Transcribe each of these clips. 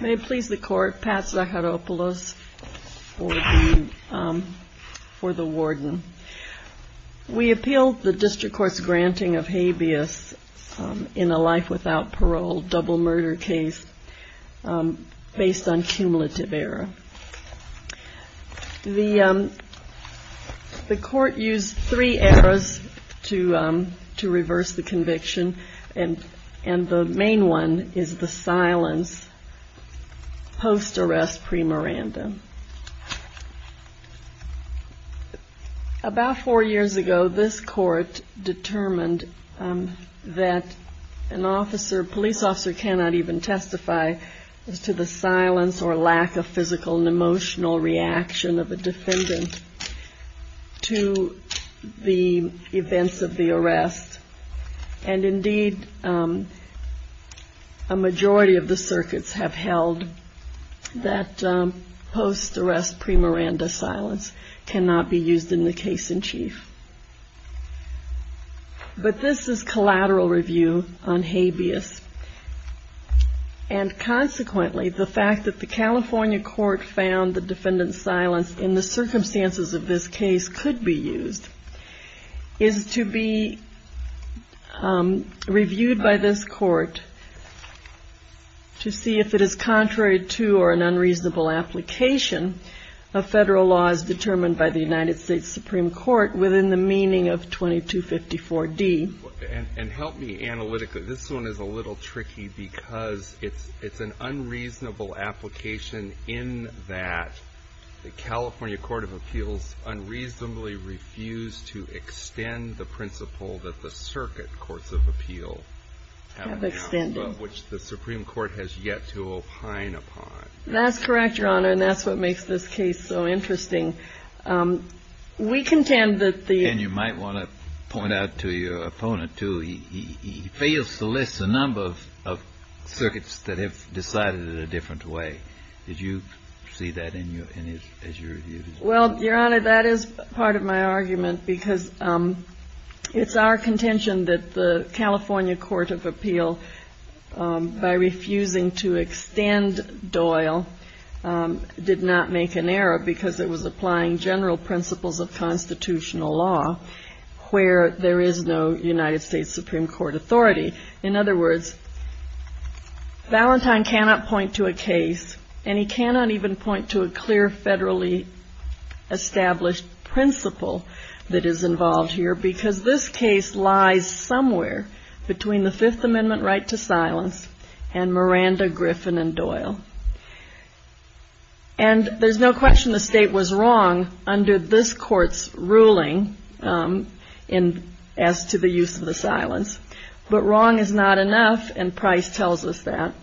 May it please the Court, Pat Zaharopoulos for the Warden. We appeal the District Court's granting of habeas in a life without parole double murder case based on cumulative error. The Court used three errors to reverse the conviction. The main one is the silence post-arrest pre-morandum. About four years ago, this Court determined that a police officer cannot even reaction of a defendant to the events of the arrest. Indeed, a majority of the circuits have held that post-arrest pre-morandum silence cannot be used in the case-in-chief. But this is collateral review on habeas. Consequently, the fact that the California Court found the defendant's silence in the circumstances of this case could be used is to be reviewed by this Court to see if it is contrary to or an unreasonable application of federal laws determined by the United States Supreme Court within the meaning of 2254D. And help me analytically. This one is a little tricky because it's an unreasonable application in that the California Court of Appeals unreasonably refused to extend the principle that the circuit courts of appeal have extended, which the Supreme Court has yet to opine upon. That's correct, Your Honor, and that's what makes this case so interesting. We contend that the And you might want to point out to your opponent, too, he fails to list the number of circuits that have decided in a different way. Did you see that in your, in his, as your view? Well, Your Honor, that is part of my argument because it's our contention that the California Court of Appeal, by refusing to extend Doyle, did not make an error because it was applying general principles of constitutional law where there is no United States Supreme Court authority. In other words, Valentine cannot point to a case, and he cannot even point to a clear, federally established principle that is involved here because this case lies somewhere between the Fifth Amendment right to silence and Miranda, Griffin, and Doyle. And there's no question the state was wrong under this court's ruling as to the use of the silence, but wrong is not enough, and Price tells us that.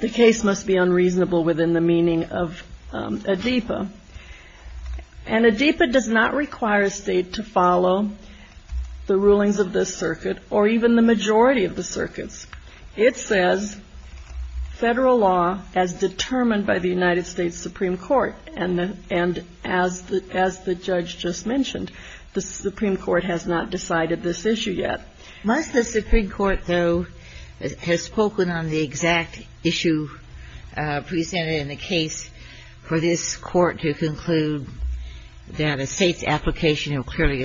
The case must be unreasonable within the meaning of ADEPA. And ADEPA does not It says federal law as determined by the United States Supreme Court. And as the judge just mentioned, the Supreme Court has not decided this issue yet. Must the Supreme Court, though, has spoken on the exact issue presented in the case for this court to conclude that a state's application of clearly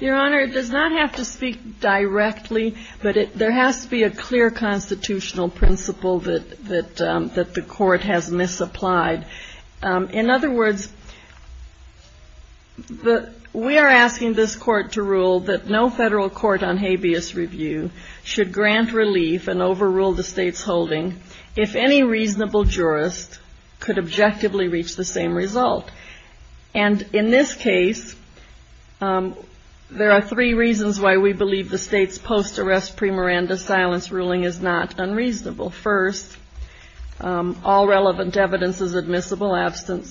Your Honor, it does not have to speak directly, but there has to be a clear constitutional principle that the court has misapplied. In other words, we are asking this court to rule that no federal court on habeas review should grant relief and overrule the state's holding if any reasonable jurist could objectively reach the same result. And in this case, there are three reasons why we believe the state's post-arrest pre-Miranda silence ruling is not unreasonable. First, all relevant evidence is admissible, absent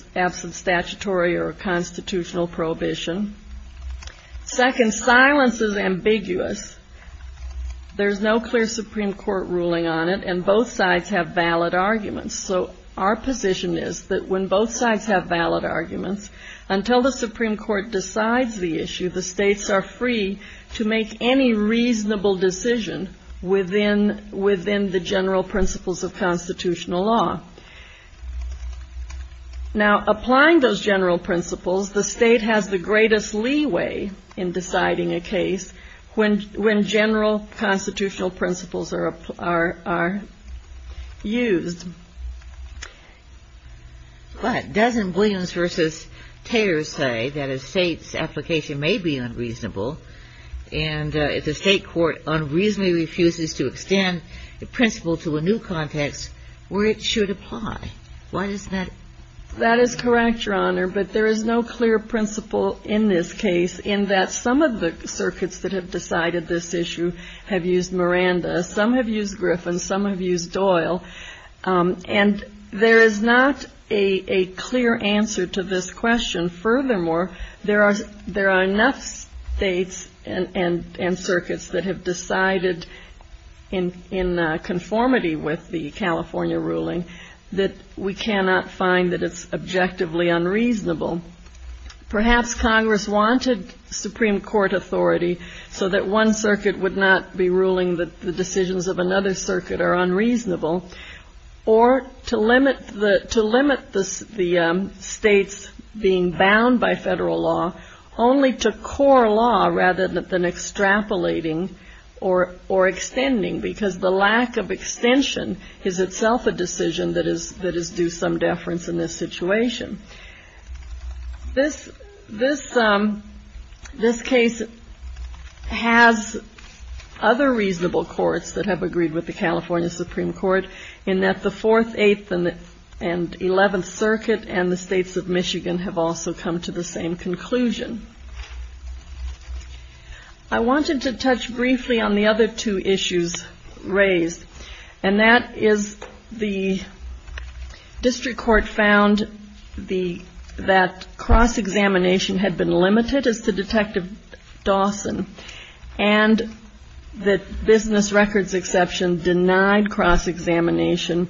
statutory or constitutional prohibition. Second, silence is ambiguous. There's no clear Supreme Court ruling on it, and both sides have valid arguments. So our position is that when both sides have valid arguments, until the Supreme Court decides the issue, the states are free to make any reasonable decision within the general principles of constitutional law. Now, applying those general principles are used. But doesn't Williams v. Tayers say that a state's application may be unreasonable, and if the state court unreasonably refuses to extend the principle to a new context, where it should apply? Why doesn't that? That is correct, Your Honor, but there is no clear principle in this case in that some of the have used Griffin, some have used Doyle, and there is not a clear answer to this question. Furthermore, there are enough states and circuits that have decided in conformity with the California ruling that we cannot find that it's objectively unreasonable. Perhaps Congress wanted Supreme Court authority so that one circuit would not be ruling that the decisions of another circuit are unreasonable, or to limit the states being bound by federal law only to core law rather than other reasonable courts that have agreed with the California Supreme Court in that the Fourth, Eighth, and Eleventh Circuit and the states of Michigan have also come to the same conclusion. I wanted to touch briefly on the other two issues raised, and that is the district court found that cross-examination had been limited as to Detective Dawson, and that business records exception denied cross-examination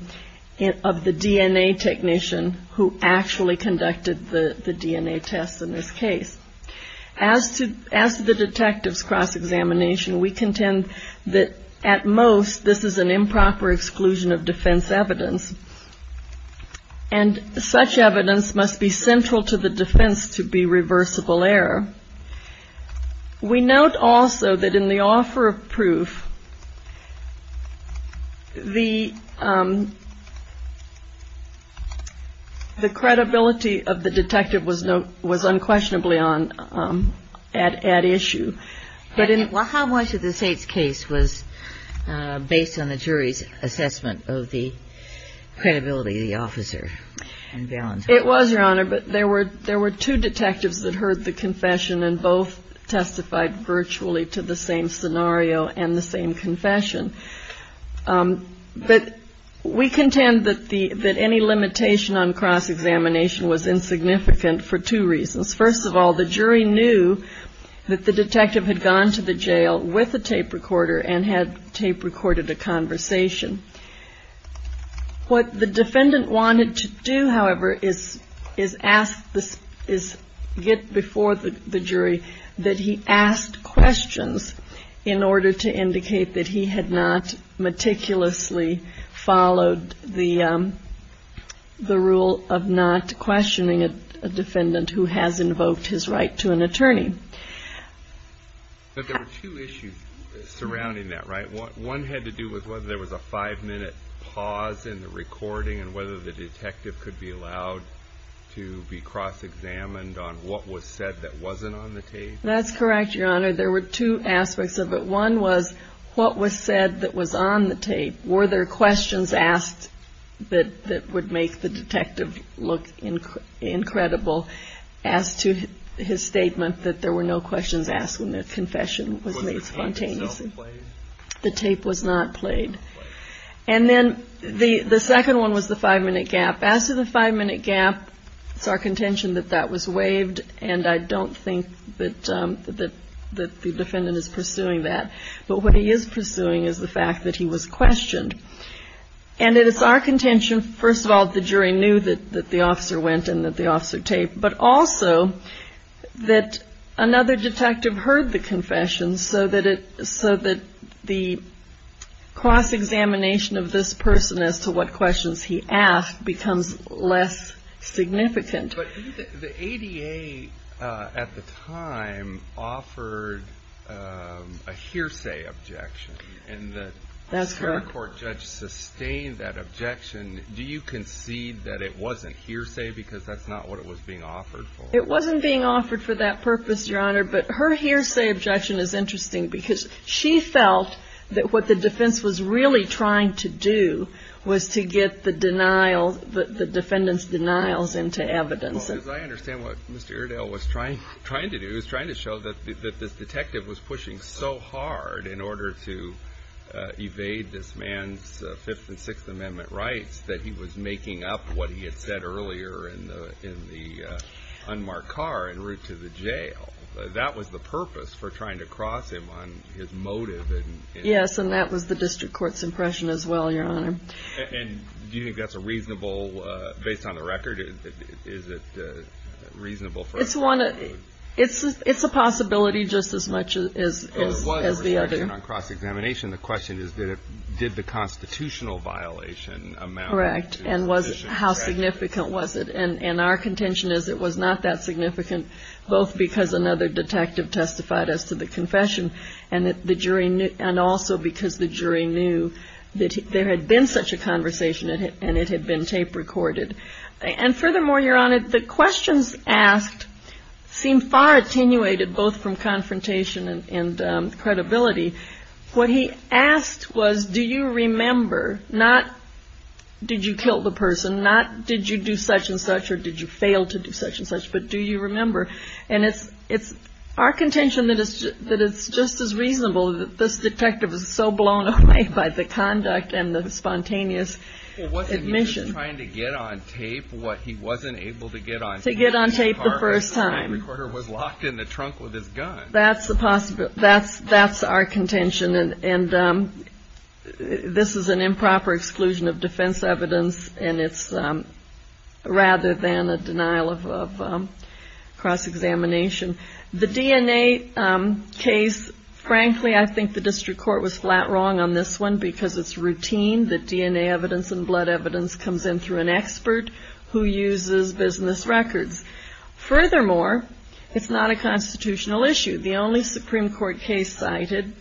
of the DNA technician who actually conducted the DNA test in this case. As to the detective's we contend that at most this is an improper exclusion of defense evidence, and such evidence must be central to the defense to be reversible error. We note also that in the Well, how much of the state's case was based on the jury's assessment of the credibility of the officer and Valens? It was, Your Honor, but there were two detectives that heard the confession and both testified virtually to the same scenario and the same confession. But we contend that any limitation on cross-examination was insignificant for two reasons. First of all, the jury knew that the detective had gone to the jail with a tape recorder and had tape recorded a conversation. What the defendant wanted to do, however, is get before the jury that he asked questions in order to indicate that he had not meticulously followed the rule of not questioning a defendant who has invoked his right to an attorney. But there were two issues surrounding that, right? One had to do with whether there was a five-minute pause in the recording and whether the detective could be allowed to be cross-examined on what was said that wasn't on the tape? That's correct, Your Honor. There were two aspects of it. One was what was said that was on the tape. Were there questions asked that would make the detective look incredible as to his statement that there were no questions asked when the confession was made spontaneously? The tape was not played. And then the second one was the five-minute gap. As to the five-minute gap, it's our contention that that was waived, and I don't think that the defendant is pursuing that. But what he is pursuing is the fact that he was questioned. And it is our contention, first of all, that the jury knew that the officer went and that the officer taped, but also that another detective heard the confession so that the cross-examination of this person as to what questions he asked becomes less significant. But the ADA at the time offered a hearsay objection, and the Supreme Court judge sustained that objection. Do you concede that it wasn't hearsay because that's not what it was being offered for? It wasn't being offered for that purpose, Your Honor, but her hearsay objection is interesting because she felt that what the defense was really trying to do was to get the defendant's denials into evidence. Well, because I understand what Mr. Iredale was trying to do. He was trying to show that this detective was pushing so hard in order to evade this man's Fifth and Sixth Amendment rights that he was making up what he had said earlier in the unmarked car en route to the jail. That was the purpose for trying to cross him on his motive. Yes, and that was the district court's impression as well, Your Honor. And do you think that's a reasonable, based on the record, is it reasonable for us to conclude? It's a possibility just as much as the other. Well, it was a cross-examination. The question is, did the constitutional violation amount to the decision? And our contention is it was not that significant, both because another detective testified as to the confession and also because the jury knew that there had been such a conversation and it had been tape recorded. And furthermore, Your Honor, the questions asked seem far attenuated, both from confrontation and credibility. What he asked was, do you remember, not did you kill the person, not did you do such and such or did you fail to do such and such, but do you remember? And it's our contention that it's just as reasonable that this detective is so blown away by the conduct and the spontaneous admission. He was trying to get on tape what he wasn't able to get on tape. To get on tape the first time. The tape recorder was locked in the trunk with his gun. That's the possibility. That's our contention. And this is an improper exclusion of defense evidence and it's rather than a denial of cross-examination. The DNA case, frankly, I think the district court was flat wrong on this one because it's routine. The DNA evidence and blood evidence comes in through an expert who uses business records. Furthermore, it's not a constitutional issue. The only Supreme Court case cited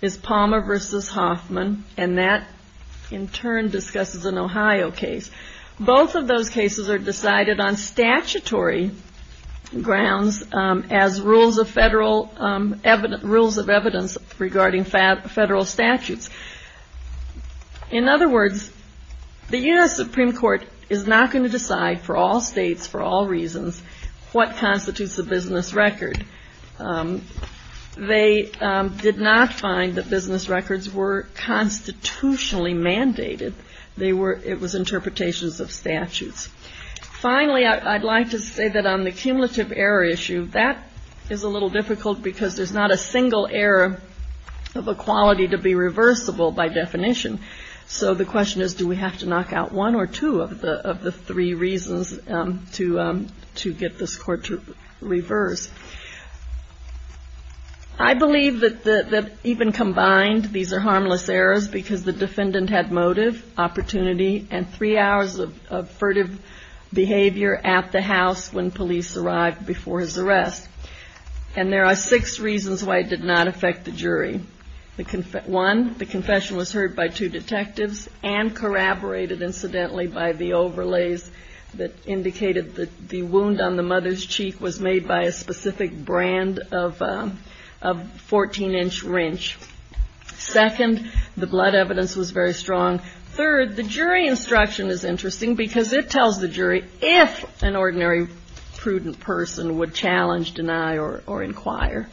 is Palmer v. Hoffman and that in turn discusses an Ohio case. Both of those cases are decided on statutory grounds as rules of evidence regarding federal statutes. In other words, the U.S. Supreme Court is not going to decide for all states, for all reasons, what constitutes a business record. They did not find that business records were constitutionally mandated. They were, it was interpretations of statutes. Finally, I'd like to say that on the cumulative error issue, that is a little difficult because there's not a single error of equality to be reversible by definition. So the question is, do we have to knock out one or two of the three reasons to get this court to reverse? I believe that even combined, these are harmless errors because the defendant had motive, opportunity, and three hours of furtive behavior at the house when police arrived before his arrest. And there are six reasons why it did not affect the jury. One, the confession was heard by two detectives and corroborated incidentally by the overlays that indicated that the wound on the mother's cheek was made by a specific brand of 14-inch wrench. Second, the blood evidence was very strong. Third, the jury instruction is interesting because it tells the jury if an ordinary prudent person would challenge, deny, or inquire,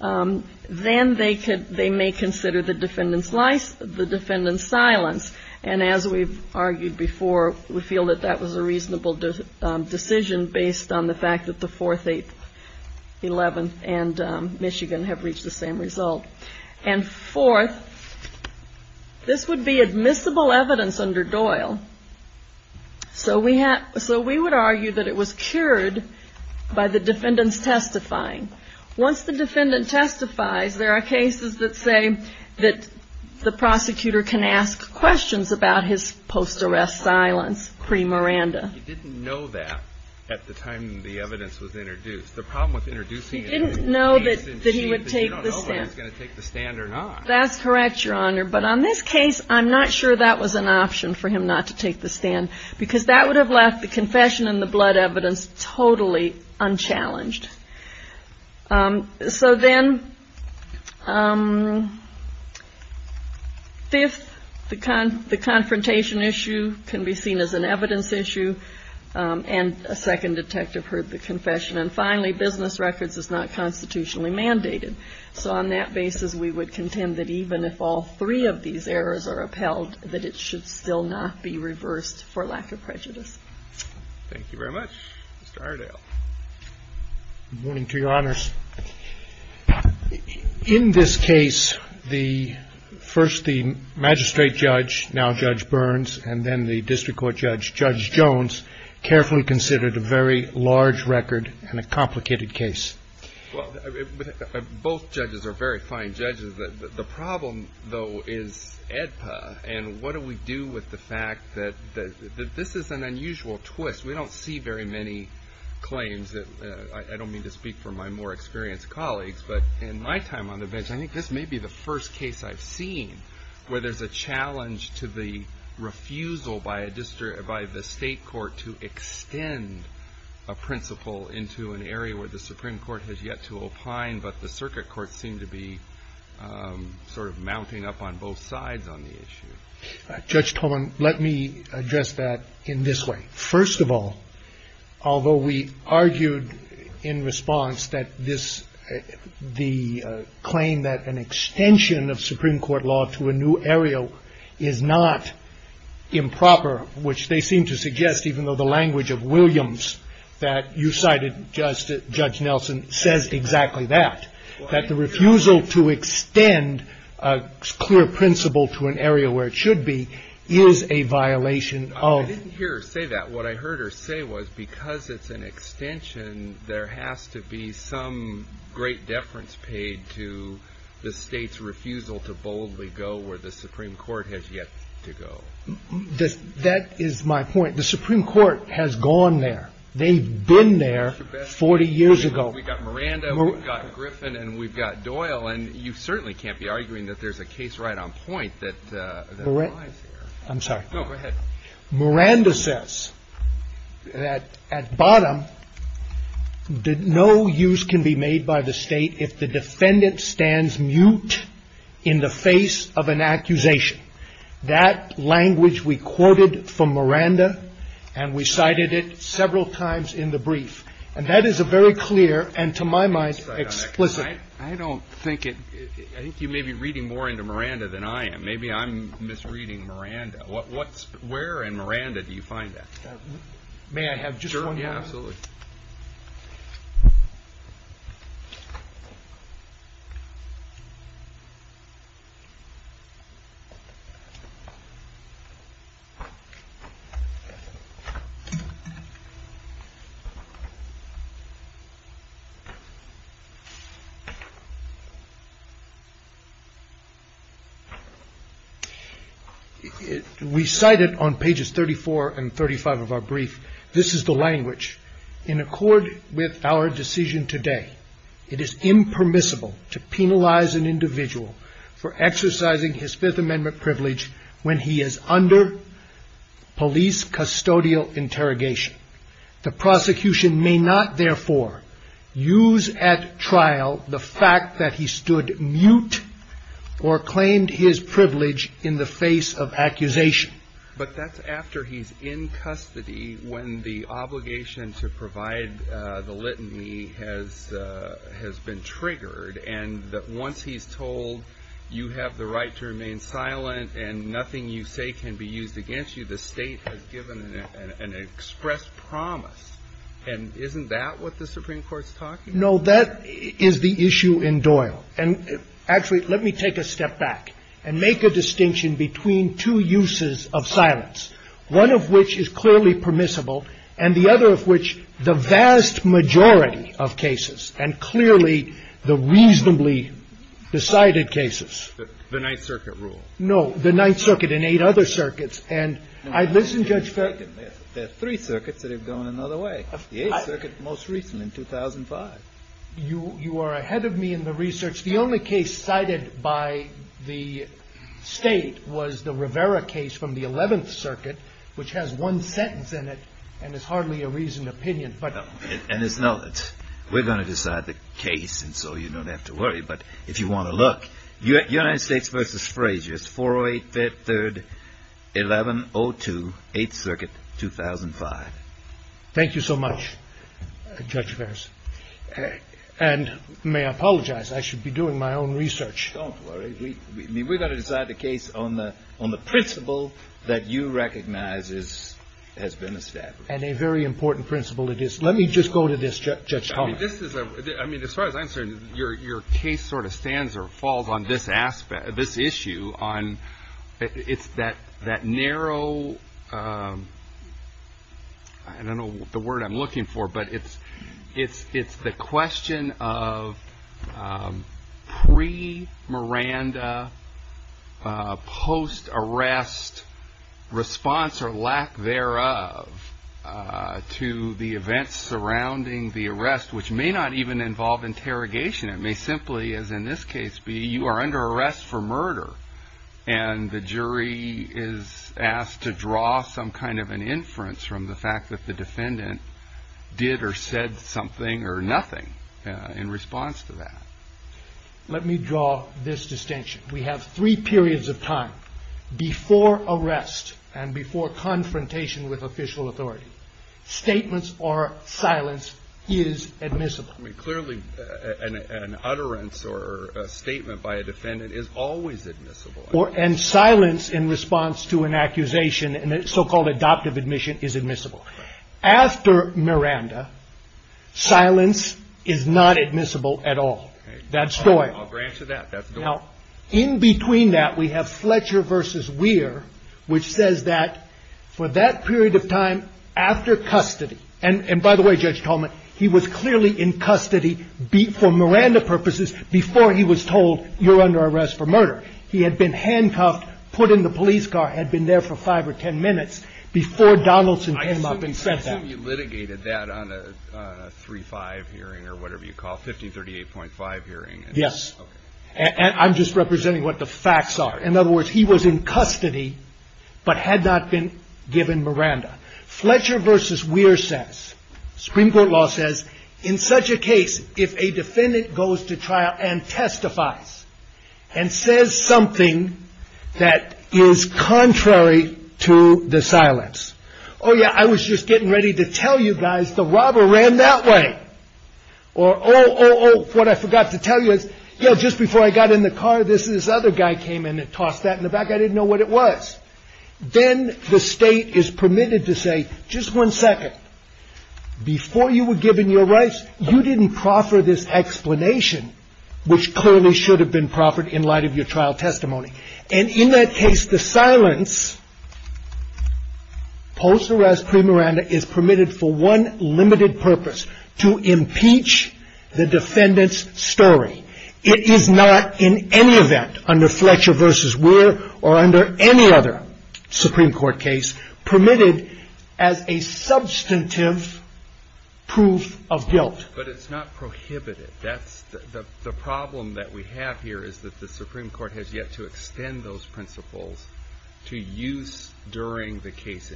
then they may consider the defendant's silence. And as we've argued before, we feel that that was a reasonable decision based on the fact that the Fourth, Eighth, Eleventh, and Michigan have reached the same result. And fourth, this would be admissible evidence under Doyle. So we would argue that it was cured by the defendant's testifying. Once the defendant testifies, there are cases that say that the prosecutor can ask questions about his post-arrest silence pre-Miranda. You didn't know that at the time the evidence was introduced. The problem with introducing it is that you don't know if he's going to take the stand or not. So then, fifth, the confrontation issue can be seen as an evidence issue. And a second detective heard the confession. And finally, business records is not constitutionally mandated. So on that basis, we would contend that even if all three of these errors are upheld, that it should still not be reversed for lack of prejudice. Thank you very much. Mr. Aredale. Good morning to your honors. In this case, first the magistrate judge, now Judge Burns, and then the district court judge, Judge Jones, carefully considered a very large record and a complicated case. Well, both judges are very fine judges. The problem, though, is AEDPA. And what do we do with the fact that this is an unusual twist? We don't see very many claims that, I don't mean to speak for my more experienced colleagues, but in my time on the bench, I think this may be the first case I've seen where there's a challenge to the refusal by the state court to extend a principle into an area where the Supreme Court has yet to opine, but the circuit courts seem to be sort of mounting up on both sides on the issue. Judge Tolman, let me address that in this way. First of all, although we argued in response that the claim that an extension of Supreme Court law to a new area is not improper, which they seem to suggest, even though the language of Williams that you cited, Judge Nelson, says exactly that, that the refusal to extend a clear principle to an area where it should be is a violation of... I didn't hear her say that. What I heard her say was because it's an extension, there has to be some great deference paid to the state's refusal to boldly go where the Supreme Court has yet to go. That is my point. The Supreme Court has gone there. They've been there 40 years ago. We've got Miranda, we've got Griffin, and we've got Doyle, and you certainly can't be arguing that there's a case right on point that lies there. I'm sorry. No, go ahead. Miranda says that at bottom, no use can be made by the State if the defendant stands mute in the face of an accusation. That language we quoted from Miranda, and we cited it several times in the brief. And that is a very clear, and to my mind, explicit... Where in Miranda do you find that? May I have just one moment? Yeah, absolutely. We cite it on pages 34 and 35 of our brief. This is the language. But that's after he's in custody when the obligation to provide the litany has been triggered, and that once he's told you have the right to remain silent and nothing you say can be used against you, the State has given an expressed promise. And isn't that what the Supreme Court's talking about? No, that is the issue in Doyle. And actually, let me take a step back and make a distinction between two uses of silence, one of which is clearly permissible, and the other of which the vast majority of cases, and clearly the reasonably decided cases. The Ninth Circuit rule. No, the Ninth Circuit and eight other circuits. There are three circuits that have gone another way. The Eighth Circuit most recently, in 2005. You are ahead of me in the research. The only case cited by the State was the Rivera case from the Eleventh Circuit, which has one sentence in it and is hardly a reasoned opinion. We're going to decide the case, and so you don't have to worry. But if you want to look, United States v. Frazier, 408 3rd, 1102, Eighth Circuit, 2005. Thank you so much, Judge Ferris. And may I apologize? I should be doing my own research. Don't worry. We're going to decide the case on the principle that you recognize has been established. And a very important principle it is. Let me just go to this, Judge Thomas. I mean, as far as I'm concerned, your case sort of stands or falls on this aspect, this issue on it's that that narrow. I don't know the word I'm looking for, but it's it's it's the question of pre Miranda post arrest response or lack thereof to the events surrounding the arrest, which may not even involve interrogation. It may simply, as in this case, be you are under arrest for murder and the jury is asked to draw some kind of an inference from the fact that the defendant did or said something or nothing in response to that. Let me draw this distinction. We have three periods of time before arrest and before confrontation with official authority. Statements or silence is admissible. Clearly, an utterance or a statement by a defendant is always admissible or and silence in response to an accusation. And it's so-called adoptive admission is admissible. After Miranda, silence is not admissible at all. That's all granted that that's now in between that we have Fletcher versus Weir, which says that for that period of time after custody. And by the way, Judge Tolman, he was clearly in custody for Miranda purposes before he was told you're under arrest for murder. He had been handcuffed, put in the police car, had been there for five or 10 minutes before Donaldson came up and said that you litigated that on a three five hearing or whatever you call 1538.5 hearing. Yes. And I'm just representing what the facts are. In other words, he was in custody but had not been given Miranda Fletcher versus Weir says Supreme Court law says in such a case. If a defendant goes to trial and testifies and says something that is contrary to the silence. Oh, yeah. I was just getting ready to tell you guys the robber ran that way or. Oh, what I forgot to tell you is, you know, just before I got in the car, this is this other guy came in and tossed that in the back. I didn't know what it was. Then the state is permitted to say just one second before you were given your rights. You didn't proffer this explanation, which clearly should have been proffered in light of your trial testimony. And in that case, the silence post arrest pre Miranda is permitted for one limited purpose to impeach the defendant's story. It is not in any event under Fletcher versus Weir or under any other Supreme Court case permitted as a substantive proof of guilt. But it's not prohibited. That's the problem that we have here is that the Supreme Court has yet to extend those principles to use during the case.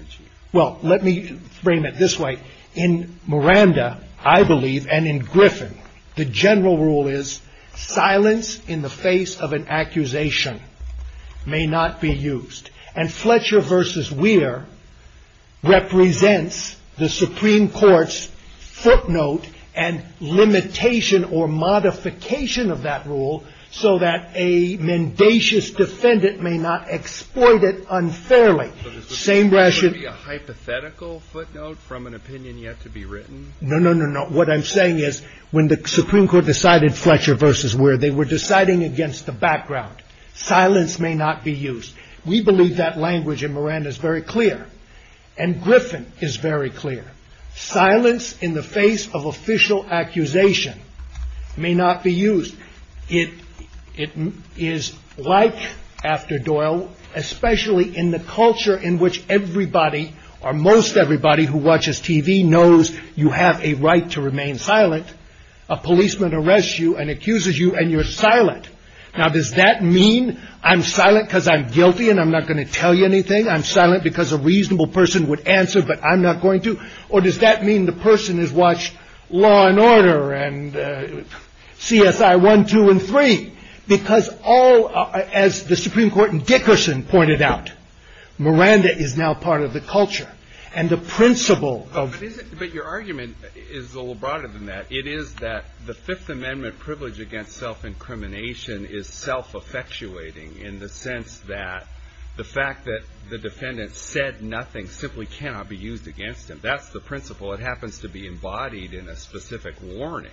Well, let me frame it this way. In Miranda, I believe, and in Griffin, the general rule is silence in the face of an accusation may not be used. And Fletcher versus Weir represents the Supreme Court's footnote and limitation or modification of that rule so that a mendacious defendant may not exploit it unfairly. Same rational hypothetical footnote from an opinion yet to be written. No, no, no, no. What I'm saying is when the Supreme Court decided Fletcher versus where they were deciding against the background, silence may not be used. We believe that language in Miranda is very clear and Griffin is very clear. Silence in the face of official accusation may not be used. It is like after Doyle, especially in the culture in which everybody or most everybody who watches TV knows you have a right to remain silent. A policeman arrests you and accuses you and you're silent. Now, does that mean I'm silent because I'm guilty and I'm not going to tell you anything? I'm silent because a reasonable person would answer, but I'm not going to. Or does that mean the person is watched law and order and CSI one, two and three? Because all as the Supreme Court and Dickerson pointed out, Miranda is now part of the culture and the principle of your argument is a little broader than that. It is that the Fifth Amendment privilege against self-incrimination is self-affectuating in the sense that the fact that the defendant said nothing simply cannot be used against him. That's the principle. It happens to be embodied in a specific warning.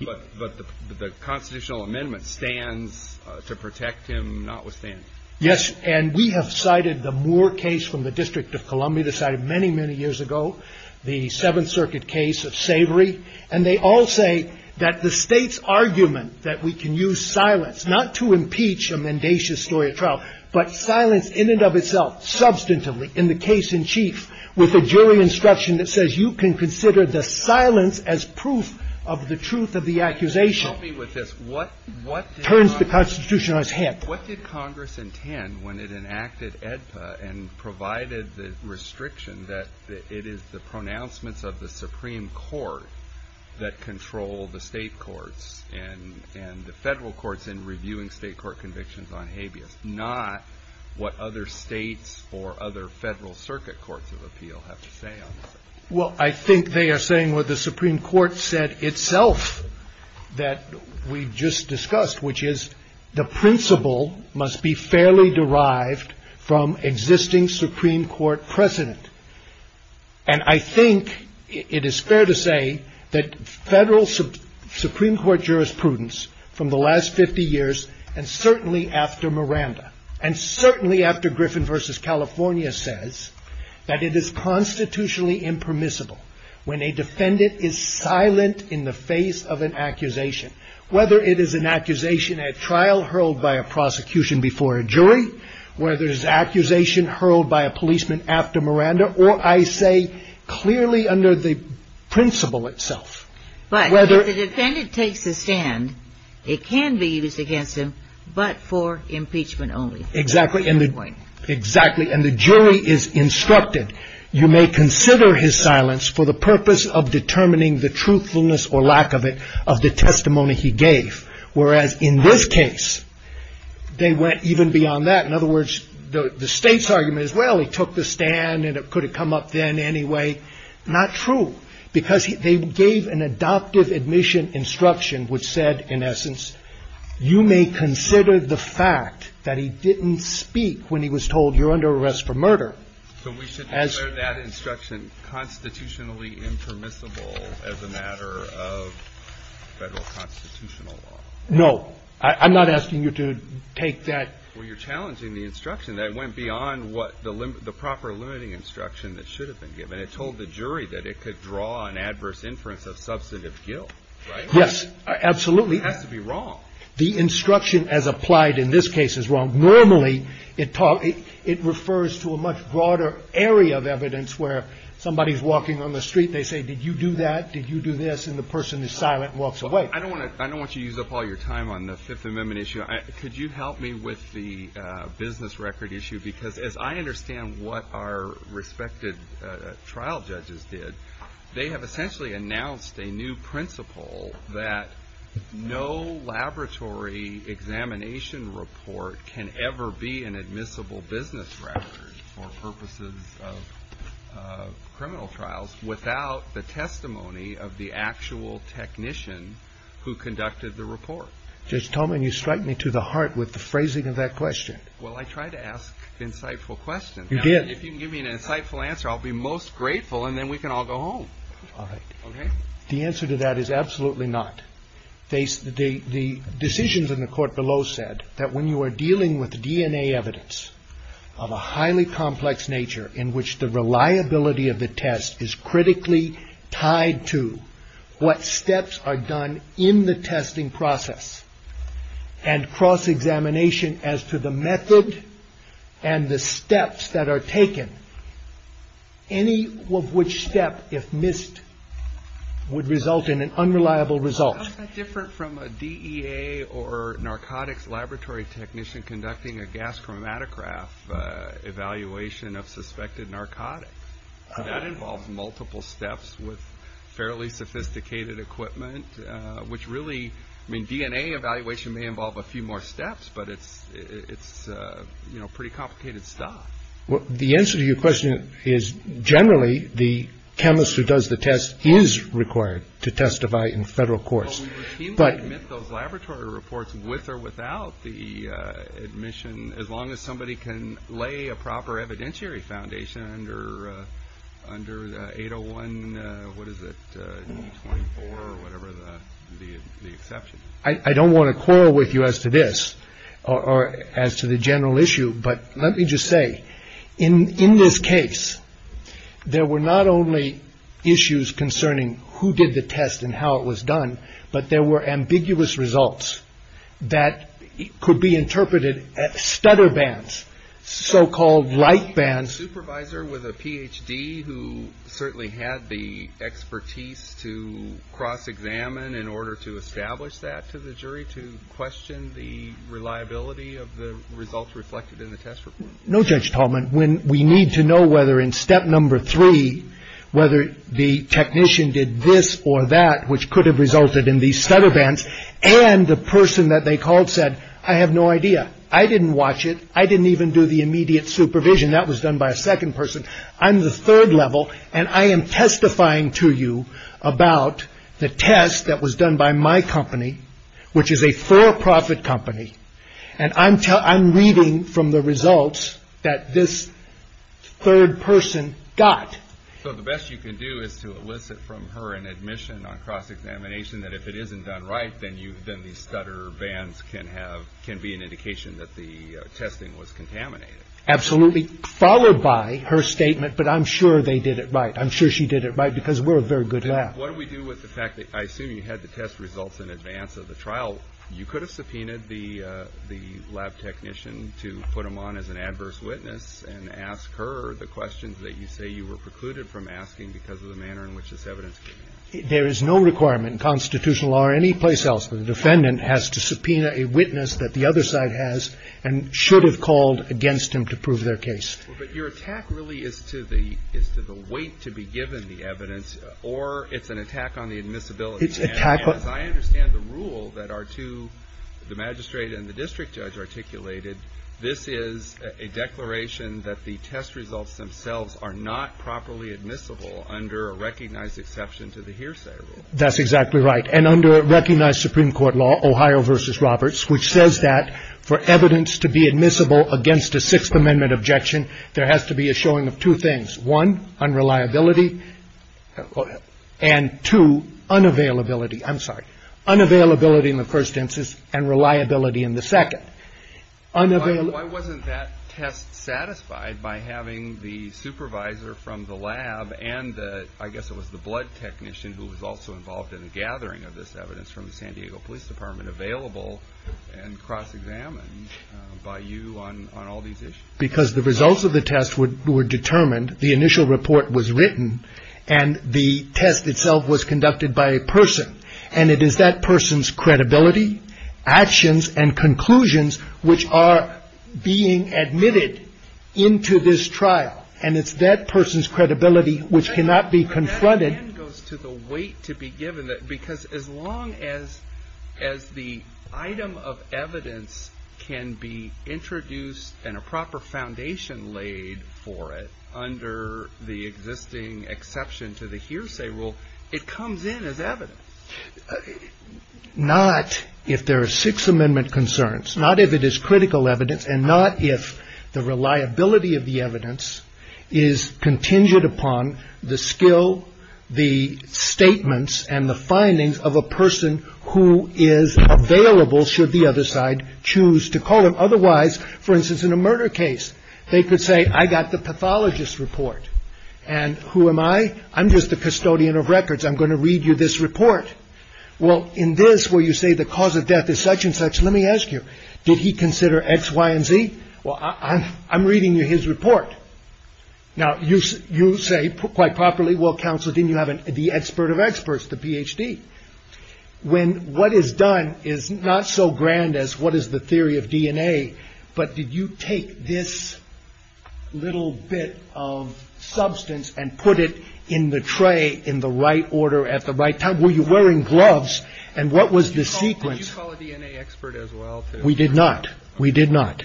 But the constitutional amendment stands to protect him notwithstanding. Yes. And we have cited the Moore case from the District of Columbia decided many, many years ago, the Seventh Circuit case of Savory. And they all say that the State's argument that we can use silence not to impeach a mendacious story of trial, but silence in and of itself substantively in the case in chief with a jury instruction that says you can consider the silence as proof of the truth of the accusation. Help me with this. What turns the Constitution on its head? What did Congress intend when it enacted AEDPA and provided the restriction that it is the pronouncements of the Supreme Court that control the State courts and the federal courts in reviewing state court convictions on habeas, not what other states or other federal circuit courts of appeal have to say on this? Well, I think they are saying what the Supreme Court said itself that we've just discussed, which is the principle must be fairly derived from existing Supreme Court precedent. And I think it is fair to say that federal Supreme Court jurisprudence from the last 50 years and certainly after Miranda and certainly after Griffin versus California says that it is constitutionally impermissible when a defendant is silent in the face of an accusation, whether it is an accusation at trial hurled by a prosecution before a jury, whether it is an accusation hurled by a policeman after Miranda, or I say clearly under the principle itself. But if the defendant takes a stand, it can be used against him, but for impeachment only. Exactly. And the jury is instructed, you may consider his silence for the purpose of determining the truthfulness or lack of it of the testimony he gave. Whereas in this case, they went even beyond that. In other words, the state's argument is, well, he took the stand and it could have come up then anyway. Not true, because they gave an adoptive admission instruction which said, in essence, you may consider the fact that he didn't speak when he was told you're under arrest for murder. So we should declare that instruction constitutionally impermissible as a matter of Federal constitutional law? No. I'm not asking you to take that. Well, you're challenging the instruction that went beyond what the proper limiting instruction that should have been given. It told the jury that it could draw an adverse inference of substantive guilt, right? Yes. Absolutely. It has to be wrong. The instruction as applied in this case is wrong. Normally, it refers to a much broader area of evidence where somebody is walking on the street, they say, did you do that? Did you do this? And the person is silent and walks away. I don't want to use up all your time on the Fifth Amendment issue. Could you help me with the business record issue? Because as I understand what our respected trial judges did, they have essentially announced a new principle that no laboratory examination report can ever be an admissible business record for purposes of criminal trials without the testimony of the actual technician who conducted the report. Judge Tolman, you strike me to the heart with the phrasing of that question. Well, I try to ask insightful questions. You did. If you can give me an insightful answer, I'll be most grateful and then we can all go home. All right. OK. The answer to that is absolutely not. The decisions in the court below said that when you are dealing with DNA evidence of a highly complex nature in which the reliability of the test is critically tied to what steps are done in the testing process and cross examination as to the method and the steps that are taken, any of which step, if missed, would result in an unreliable result. Different from a DEA or narcotics laboratory technician conducting a gas chromatograph evaluation of suspected narcotics. That involves multiple steps with fairly sophisticated equipment, which really mean DNA evaluation may involve a few more steps, but it's it's pretty complicated stuff. Well, the answer to your question is generally the chemist who does the test is required to testify in federal courts. But those laboratory reports with or without the admission, as long as somebody can lay a proper evidentiary foundation under under 801. What is it? The exception. I don't want to quarrel with you as to this or as to the general issue. But let me just say, in this case, there were not only issues concerning who did the test and how it was done, but there were ambiguous results that could be interpreted as stutter bands, so-called light bands. Was there a supervisor with a Ph.D. who certainly had the expertise to cross examine in order to establish that to the jury to question the reliability of the results reflected in the test report? No, Judge Tallman, when we need to know whether in step number three, whether the technician did this or that, which could have resulted in these stutter bands. And the person that they called said, I have no idea. I didn't watch it. I didn't even do the immediate supervision. That was done by a second person. I'm the third level. And I am testifying to you about the test that was done by my company, which is a for profit company. And I'm I'm reading from the results that this third person got. So the best you can do is to elicit from her an admission on cross examination that if it isn't done right, then you then these stutter bands can have can be an indication that the testing was contaminated. Absolutely. Followed by her statement. But I'm sure they did it right. I'm sure she did it right because we're a very good lab. What do we do with the fact that I assume you had the test results in advance of the trial? You could have subpoenaed the the lab technician to put him on as an adverse witness and ask her the questions that you say you were precluded from asking because of the manner in which this evidence. There is no requirement in constitutional or any place else for the defendant has to subpoena a witness that the other side has and should have called against him to prove their case. But your attack really is to the is to the weight to be given the evidence or it's an attack on the admissibility attack. But I understand the rule that are to the magistrate and the district judge articulated. This is a declaration that the test results themselves are not properly admissible under a recognized exception to the hearsay. That's exactly right. And under recognized Supreme Court law, Ohio versus Roberts, which says that for evidence to be admissible against a Sixth Amendment objection, there has to be a showing of two things. One, unreliability and two, unavailability. I'm sorry. Unavailability in the first instance and reliability in the second. Why wasn't that test satisfied by having the supervisor from the lab and I guess it was the blood technician who was also involved in the gathering of this evidence from the San Diego Police Department available and cross examined by you on all these issues? Because the results of the test were determined. The initial report was written and the test itself was conducted by a person. And it is that person's credibility, actions and conclusions which are being admitted into this trial. And it's that person's credibility which cannot be confronted. It again goes to the weight to be given because as long as the item of evidence can be introduced and a proper foundation laid for it under the existing exception to the hearsay rule, it comes in as evidence. Not if there are Sixth Amendment concerns. Not if it is critical evidence and not if the reliability of the evidence is contingent upon the skill, the statements and the findings of a person who is available should the other side choose to call him. Otherwise, for instance, in a murder case, they could say I got the pathologist report. And who am I? I'm going to read you this report. Well, in this where you say the cause of death is such and such. Let me ask you. Did he consider X, Y and Z? Well, I'm reading you his report. Now, you say quite properly. Well, counsel, didn't you have the expert of experts, the PhD when what is done is not so grand as what is the theory of DNA? But did you take this little bit of substance and put it in the tray in the right order at the right time? Were you wearing gloves? And what was the sequence? We did not. We did not.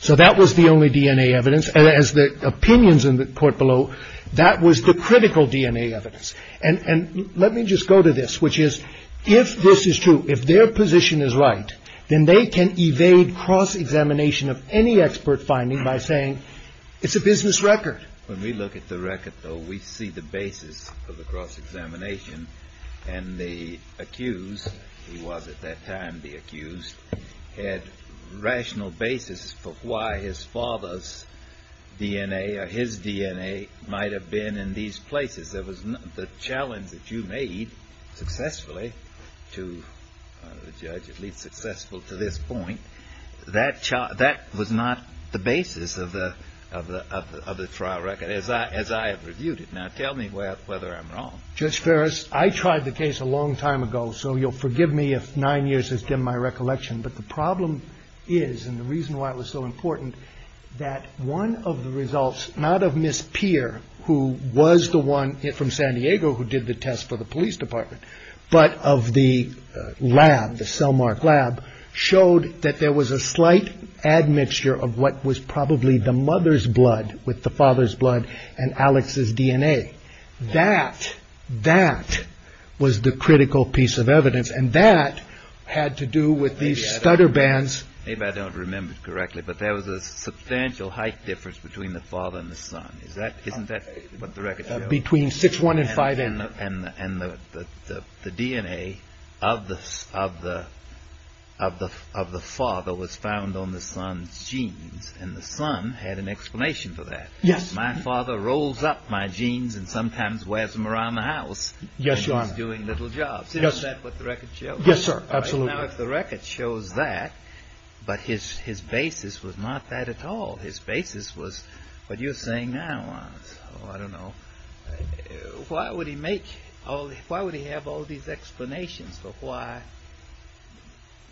So that was the only DNA evidence. And as the opinions in the court below, that was the critical DNA evidence. And let me just go to this, which is if this is true, if their position is right, then they can evade cross examination of any expert finding by saying it's a business record. When we look at the record, though, we see the basis of the cross examination. And the accused, he was at that time the accused, had rational basis for why his father's DNA or his DNA might have been in these places. There was the challenge that you made successfully to the judge, at least successful to this point. That that was not the basis of the of the trial record as I as I have reviewed it. Now, tell me whether I'm wrong. Judge Ferris, I tried the case a long time ago, so you'll forgive me if nine years has dimmed my recollection. But the problem is and the reason why it was so important that one of the results, not of Miss Peer, who was the one from San Diego who did the test for the police department, but of the lab, the cellmark lab showed that there was a slight admixture of what was probably the mother's blood with the father's blood and Alex's DNA. That that was the critical piece of evidence. And that had to do with these stutter bands. Maybe I don't remember correctly, but there was a substantial height difference between the father and the son. Is that isn't that what the record between six, one and five and the DNA of the of the of the father was found on the son's genes. And the son had an explanation for that. Yes, my father rolls up my jeans and sometimes wears them around the house. Yes. You are doing little jobs. Yes. That's what the record shows. Yes, sir. Absolutely. Now, if the record shows that. But his his basis was not that at all. His basis was what you're saying now. I don't know. Why would he make all. Why would he have all these explanations for why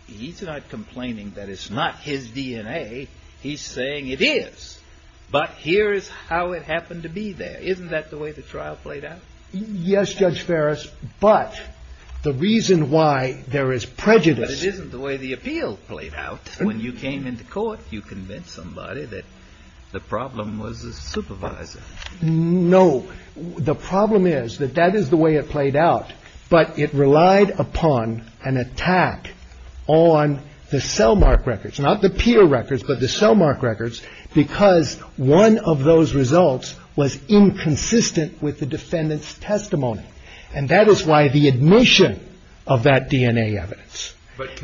he's not complaining that it's not his DNA. He's saying it is. But here is how it happened to be there. Isn't that the way the trial played out? Yes. Judge Ferris. But the reason why there is prejudice isn't the way the appeal played out. When you came into court, you convinced somebody that the problem was a supervisor. No. The problem is that that is the way it played out. But it relied upon an attack on the cellmark records, not the peer records, but the cellmark records, because one of those results was inconsistent with the defendant's testimony. And that is why the admission of that DNA evidence.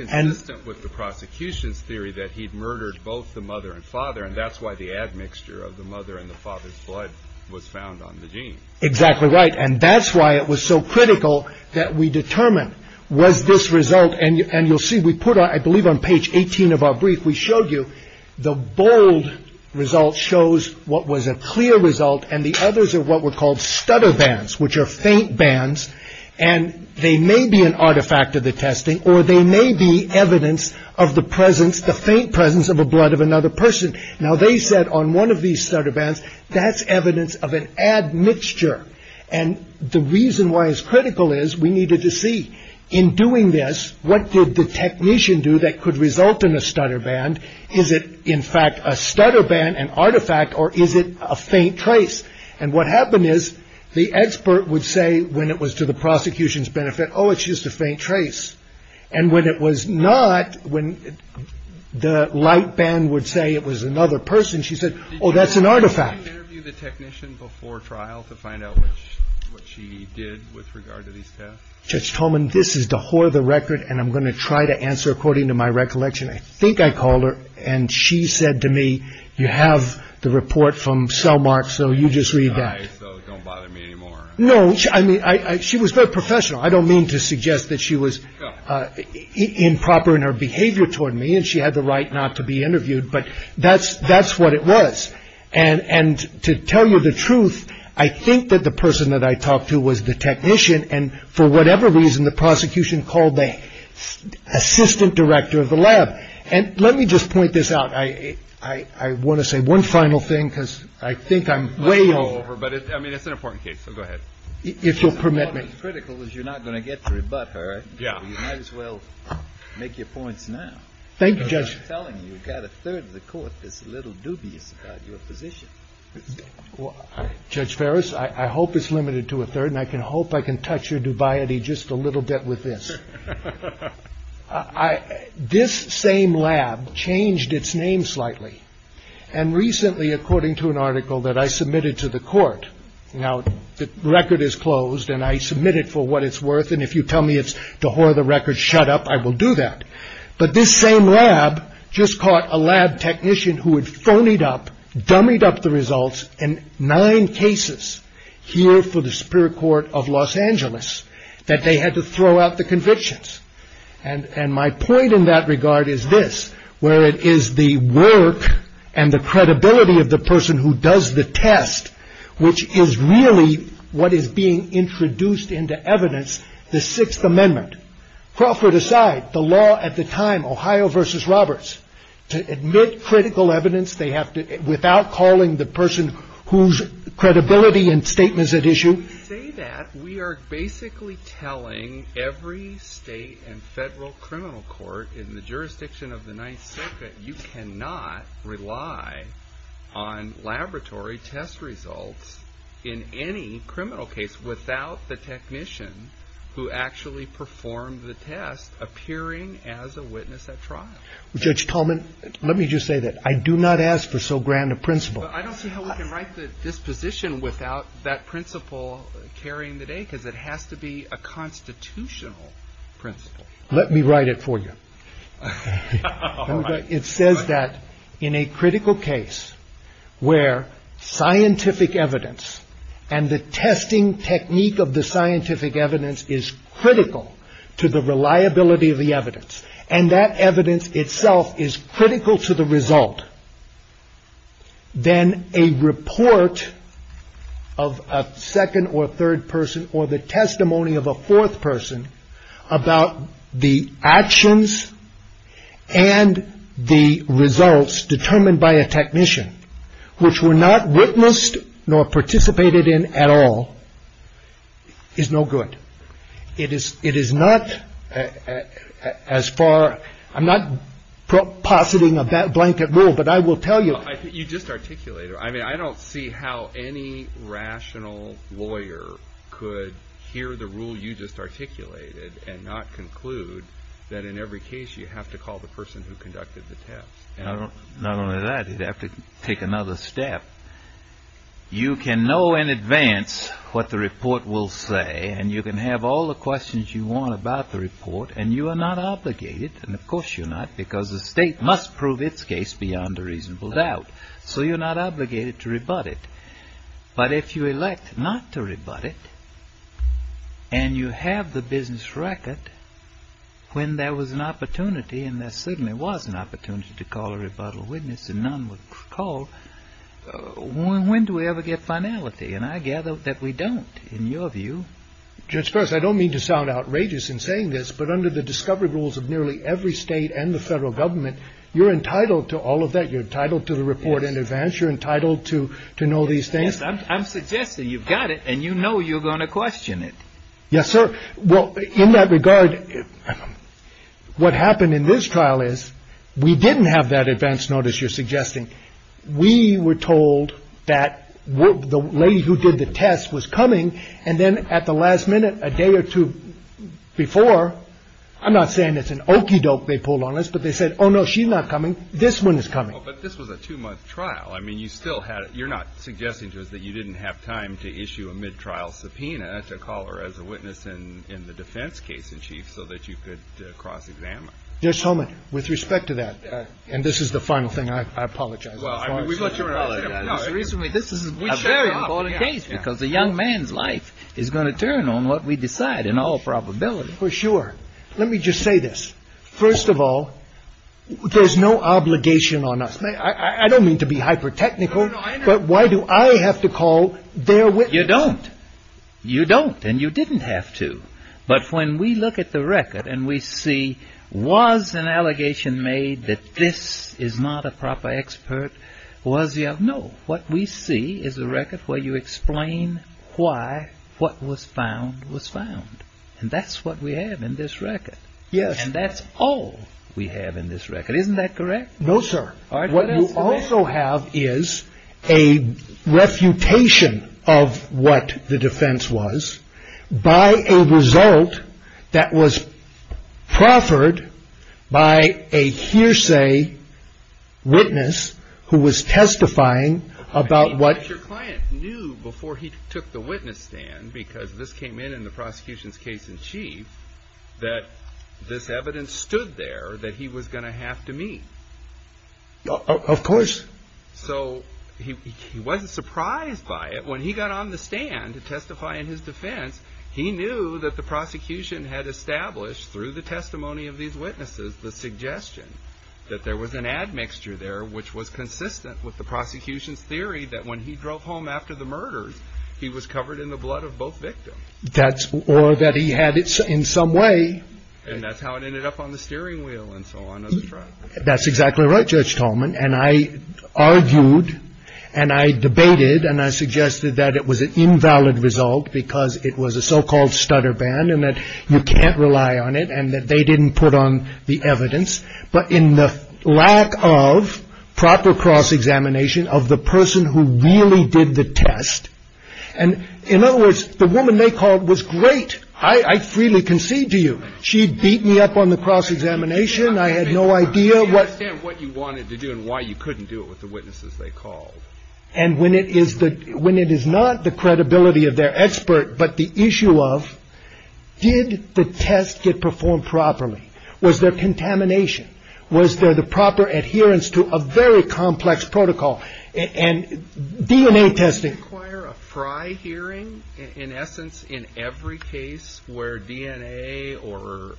And with the prosecution's theory that he'd murdered both the mother and father. And that's why the admixture of the mother and the father's blood was found on the jeans. Exactly right. And that's why it was so critical that we determine was this result. And you'll see we put I believe on page 18 of our brief. We showed you the bold result shows what was a clear result. And the others are what were called stutter bands, which are faint bands. And they may be an artifact of the testing or they may be evidence of the presence, the faint presence of a blood of another person. Now, they said on one of these stutter bands, that's evidence of an admixture. And the reason why is critical is we needed to see in doing this. What did the technician do that could result in a stutter band? Is it, in fact, a stutter band, an artifact or is it a faint trace? And what happened is the expert would say when it was to the prosecution's benefit. Oh, it's just a faint trace. And when it was not, when the light band would say it was another person, she said, oh, that's an artifact. The technician before trial to find out what she did with regard to these tests. Judge Tolman, this is the whore of the record. And I'm going to try to answer according to my recollection. I think I called her and she said to me, you have the report from Selmark. So you just read that. So don't bother me anymore. No, I mean, she was very professional. I don't mean to suggest that she was improper in her behavior toward me and she had the right not to be interviewed. But that's that's what it was. And to tell you the truth, I think that the person that I talked to was the technician. And for whatever reason, the prosecution called the assistant director of the lab. And let me just point this out. I want to say one final thing, because I think I'm way over. But I mean, it's an important case. So go ahead. If you'll permit me. The critical is you're not going to get to rebut her. Yeah. Might as well make your points now. Thank you, Judge. I'm telling you, you've got a third of the court that's a little dubious about your position. Judge Ferris, I hope it's limited to a third. And I can hope I can touch your dubiety just a little bit with this. I this same lab changed its name slightly. And recently, according to an article that I submitted to the court. Now, the record is closed and I submitted for what it's worth. And if you tell me it's the whole of the record, shut up. I will do that. But this same lab just caught a lab technician who had phonied up, dummied up the results in nine cases here for the Superior Court of Los Angeles that they had to throw out the convictions. And my point in that regard is this, where it is the work and the credibility of the person who does the test, which is really what is being introduced into evidence. The Sixth Amendment Crawford aside, the law at the time, Ohio versus Roberts to admit critical evidence. They have to, without calling the person whose credibility and statements at issue. We say that we are basically telling every state and federal criminal court in the jurisdiction of the Ninth Circuit. You cannot rely on laboratory test results in any criminal case without the technician who actually performed the test appearing as a witness at trial. Judge Coleman, let me just say that I do not ask for so grand a principle. I don't see how we can write this position without that principle carrying the day because it has to be a constitutional principle. Let me write it for you. It says that in a critical case where scientific evidence and the testing technique of the scientific evidence is critical to the reliability of the evidence and that evidence itself is critical to the result. Then a report of a second or third person or the testimony of a fourth person about the actions and the results determined by a technician which were not witnessed nor participated in at all is no good. It is it is not as far. I'm not positing of that blanket rule, but I will tell you, I think you just articulated. I mean, I don't see how any rational lawyer could hear the rule you just articulated and not conclude that in every case you have to call the person who conducted the test. Not only that, you'd have to take another step. You can know in advance what the report will say and you can have all the questions you want about the report and you are not obligated. And of course you're not because the state must prove its case beyond a reasonable doubt. So you're not obligated to rebut it. But if you elect not to rebut it and you have the business record when there was an opportunity and there certainly was an opportunity to call a rebuttal witness and none would call. When do we ever get finality? And I gather that we don't, in your view. Just because I don't mean to sound outrageous in saying this, but under the discovery rules of nearly every state and the federal government, you're entitled to all of that. You're entitled to the report in advance. You're entitled to to know these things. I'm suggesting you've got it and you know, you're going to question it. Yes, sir. Well, in that regard, what happened in this trial is we didn't have that advance notice. You're suggesting we were told that the lady who did the test was coming. And then at the last minute, a day or two before. I'm not saying it's an okie doke they pulled on us, but they said, oh, no, she's not coming. This one is coming. But this was a two month trial. I mean, you still had it. You're not suggesting to us that you didn't have time to issue a mid trial subpoena to call her as a witness in the defense case in chief so that you could cross examine. There's so much with respect to that. And this is the final thing. I apologize. Recently, this is a very important case because the young man's life is going to turn on what we decide in all probability for sure. Let me just say this. First of all, there's no obligation on us. I don't mean to be hyper technical, but why do I have to call there with you? You don't. You don't. And you didn't have to. But when we look at the record and we see was an allegation made that this is not a proper expert. Was you know what we see is a record where you explain why what was found was found. And that's what we have in this record. Yes. And that's all we have in this record. Isn't that correct? No, sir. What you also have is a refutation of what the defense was by a result that was proffered by a hearsay witness who was testifying about what your client knew before he took the witness stand. Because this came in in the prosecution's case in chief that this evidence stood there that he was going to have to meet. Of course. So he wasn't surprised by it when he got on the stand to testify in his defense. He knew that the prosecution had established through the testimony of these witnesses the suggestion that there was an admixture there, which was consistent with the prosecution's theory that when he drove home after the murders, he was covered in the blood of both victims. That's or that he had it in some way. And that's how it ended up on the steering wheel. And so on. That's exactly right. Judge Tolman. And I argued and I debated and I suggested that it was an invalid result because it was a so-called stutter ban and that you can't rely on it and that they didn't put on the evidence. But in the lack of proper cross-examination of the person who really did the test. And in other words, the woman they called was great. I freely concede to you. She beat me up on the cross-examination. I had no idea what you wanted to do and why you couldn't do it with the witnesses they called. And when it is that when it is not the credibility of their expert, but the issue of did the test get performed properly? Was there contamination? Was there the proper adherence to a very complex protocol and DNA testing? Require a fry hearing, in essence, in every case where DNA or.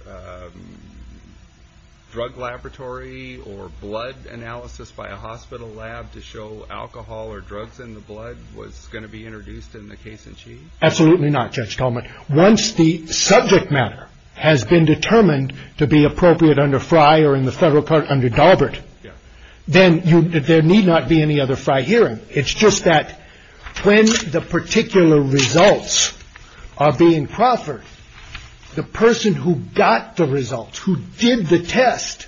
Drug laboratory or blood analysis by a hospital lab to show alcohol or drugs in the blood was going to be introduced in the case. Absolutely not, Judge Tolman. Once the subject matter has been determined to be appropriate under Fry or in the federal court under Daubert, then there need not be any other fry hearing. It's just that when the particular results are being proffered, the person who got the results, who did the test.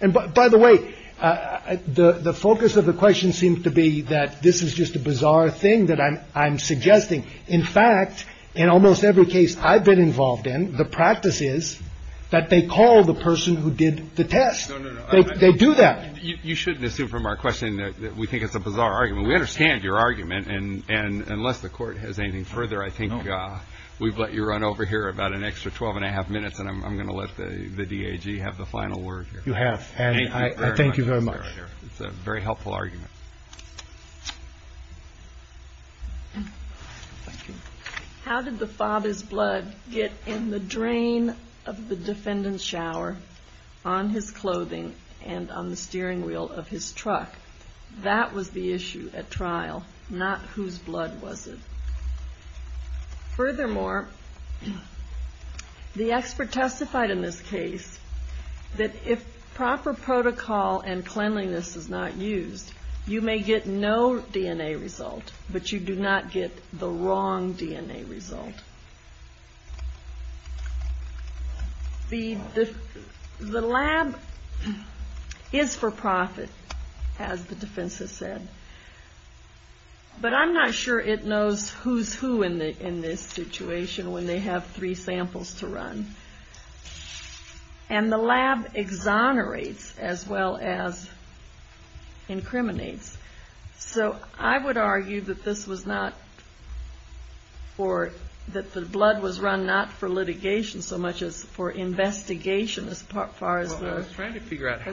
And by the way, the focus of the question seems to be that this is just a bizarre thing that I'm suggesting. In fact, in almost every case I've been involved in, the practice is that they call the person who did the test. They do that. You shouldn't assume from our question that we think it's a bizarre argument. We understand your argument. And unless the court has anything further, I think we've let you run over here about an extra twelve and a half minutes. And I'm going to let the D.A.G. have the final word. You have. And I thank you very much. It's a very helpful argument. How did the father's blood get in the drain of the defendant's shower on his clothing and on the steering wheel of his truck? That was the issue at trial, not whose blood was it. Furthermore, the expert testified in this case that if proper protocol and cleanliness is not used, you may get no DNA result, but you do not get the wrong DNA result. The lab is for profit, as the defense has said, but I'm not sure it knows who's who in this situation when they have three samples to run. And the lab exonerates as well as incriminates. So I would argue that the blood was run not for litigation so much as for investigation as far as the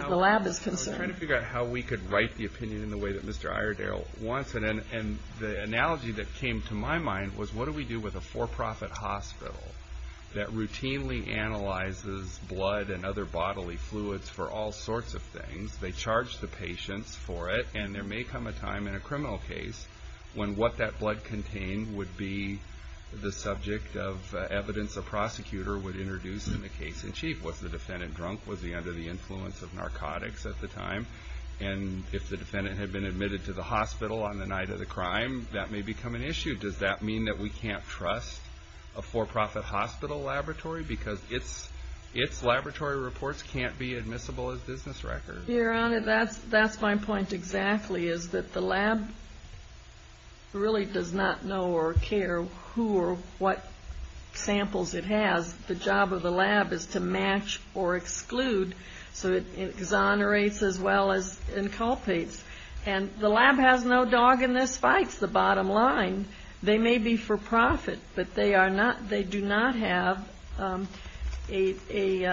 lab is concerned. I was trying to figure out how we could write the opinion in the way that Mr. Iredale wants it. And the analogy that came to my mind was, what do we do with a for-profit hospital that routinely analyzes blood and other bodily fluids for all sorts of things? They charge the patients for it, and there may come a time in a criminal case when what that blood contained would be the subject of evidence a prosecutor would introduce in the case in chief. Was the defendant drunk? Was he under the influence of narcotics at the time? And if the defendant had been admitted to the hospital on the night of the crime, that may become an issue. Does that mean that we can't trust a for-profit hospital laboratory because its laboratory reports can't be admissible as business records? Your Honor, that's my point exactly, is that the lab really does not know or care who or what samples it has. The job of the lab is to match or exclude, so it exonerates as well as inculpates. And the lab has no dog in this fight is the bottom line. They may be for-profit, but they do not have a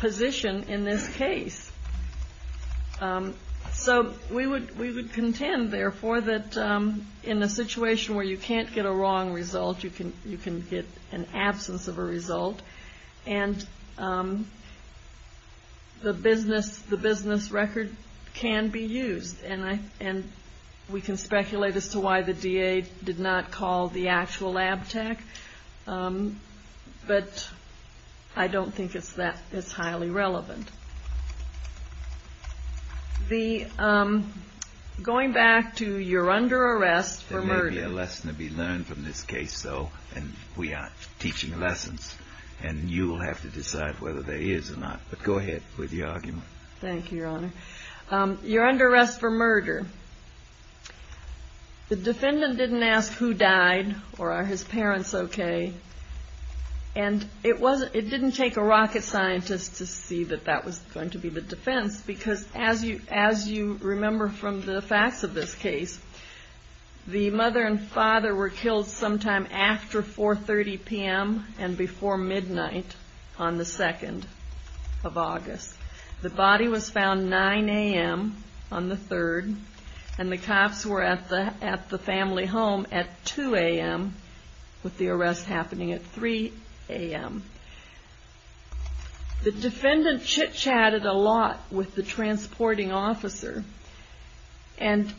position in this case. So we would contend, therefore, that in a situation where you can't get a wrong result, you can get an absence of a result, and the business record can be used. And we can speculate as to why the DA did not call the actual lab tech, but I don't think it's that highly relevant. Going back to you're under arrest for murder. There may be a lesson to be learned from this case, though, and we are teaching lessons, and you will have to decide whether there is or not. But go ahead with your argument. Thank you, Your Honor. You're under arrest for murder. The defendant didn't ask who died or are his parents okay, and it didn't take a rocket scientist to see that that was going to be the defense, because as you remember from the facts of this case, the mother and father were killed sometime after 4.30 p.m. and before midnight on the 2nd of August. The body was found 9 a.m. on the 3rd, and the cops were at the family home at 2 a.m., with the arrest happening at 3 a.m. The defendant chit-chatted a lot with the transporting officer, and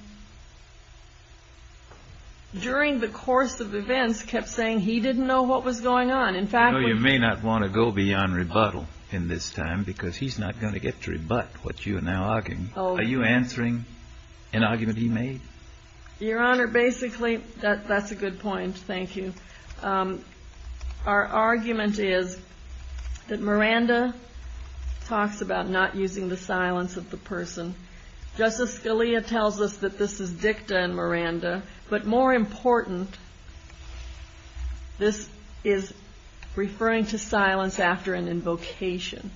during the course of events, kept saying he didn't know what was going on. You may not want to go beyond rebuttal in this time, because he's not going to get to rebut what you are now arguing. Are you answering an argument he made? Your Honor, basically, that's a good point. Thank you. Our argument is that Miranda talks about not using the silence of the person. Justice Scalia tells us that this is dicta in Miranda, but more important, this is referring to silence after an invocation.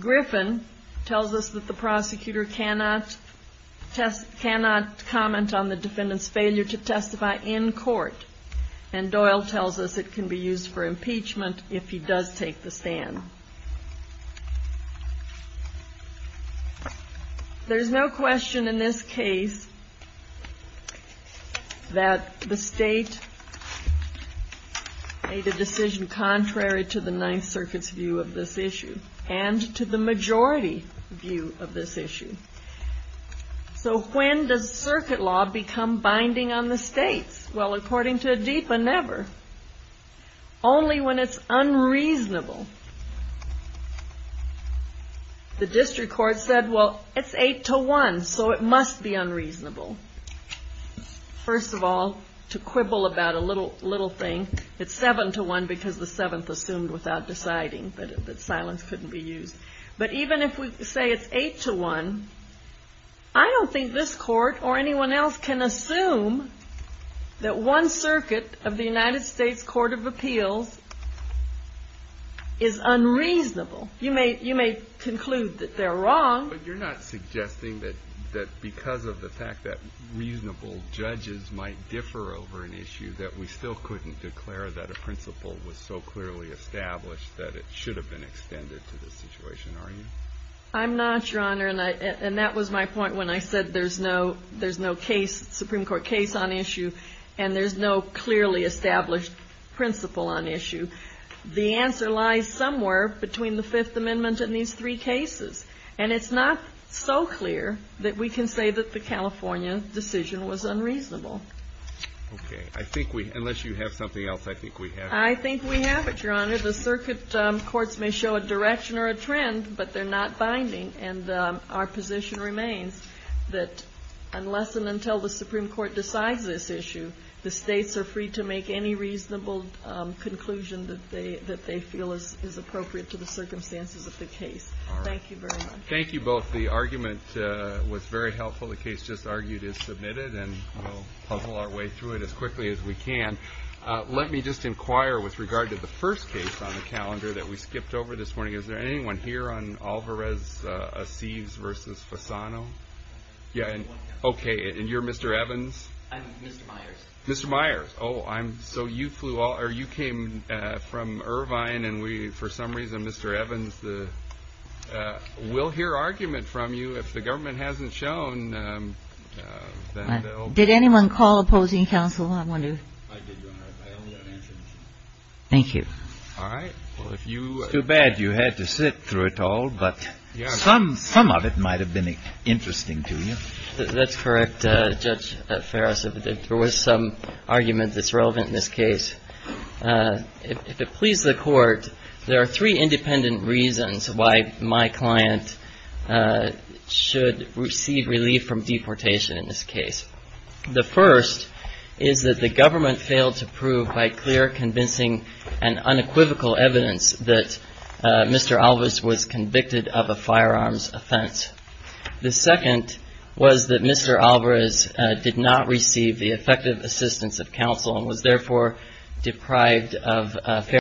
Griffin tells us that the prosecutor cannot comment on the defendant's failure to testify in court, and Doyle tells us it can be used for impeachment if he does take the stand. There's no question in this case that the state made a decision contrary to the Ninth Circuit's view of this issue, and to the majority view of this issue. So when does circuit law become binding on the states? Well, according to Adipa, never. Only when it's unreasonable. The district court said, well, it's 8-1, so it must be unreasonable. First of all, to quibble about a little thing, it's 7-1 because the 7th assumed without deciding that silence couldn't be used. But even if we say it's 8-1, I don't think this Court or anyone else can assume that one circuit of the United States Court of Appeals is unreasonable. You may conclude that they're wrong. But you're not suggesting that because of the fact that reasonable judges might differ over an issue, that we still couldn't declare that a principle was so clearly established that it should have been extended to this situation, are you? I'm not, Your Honor. And that was my point when I said there's no case, Supreme Court case on issue, and there's no clearly established principle on issue. The answer lies somewhere between the Fifth Amendment and these three cases. And it's not so clear that we can say that the California decision was unreasonable. Okay. I think we – unless you have something else, I think we have it. I think we have it, Your Honor. The circuit courts may show a direction or a trend, but they're not binding. And our position remains that unless and until the Supreme Court decides this issue, the states are free to make any reasonable conclusion that they feel is appropriate to the circumstances of the case. All right. Thank you very much. Thank you both. The argument was very helpful. The case just argued is submitted, and we'll puzzle our way through it as quickly as we can. Let me just inquire with regard to the first case on the calendar that we skipped over this morning. Is there anyone here on Alvarez-Acives v. Fasano? Yeah. Okay. And you're Mr. Evans? I'm Mr. Myers. Mr. Myers. Oh, I'm – so you flew all – or you came from Irvine, and we, for some reason, Mr. Evans, will hear argument from you. If the government hasn't shown, then they'll – Did anyone call opposing counsel? I wonder if – I did, Your Honor. I only have answers. Thank you. All right. Well, if you – Too bad you had to sit through it all, but some of it might have been interesting to you. That's correct, Judge Ferris. There was some argument that's relevant in this case. If it pleases the Court, there are three independent reasons why my client should receive relief from deportation in this case. The first is that the government failed to prove by clear, convincing and unequivocal evidence that Mr. Alvarez was convicted of a firearms offense. The second was that Mr. Alvarez did not receive the effective assistance of counsel and was, therefore, deprived of parole.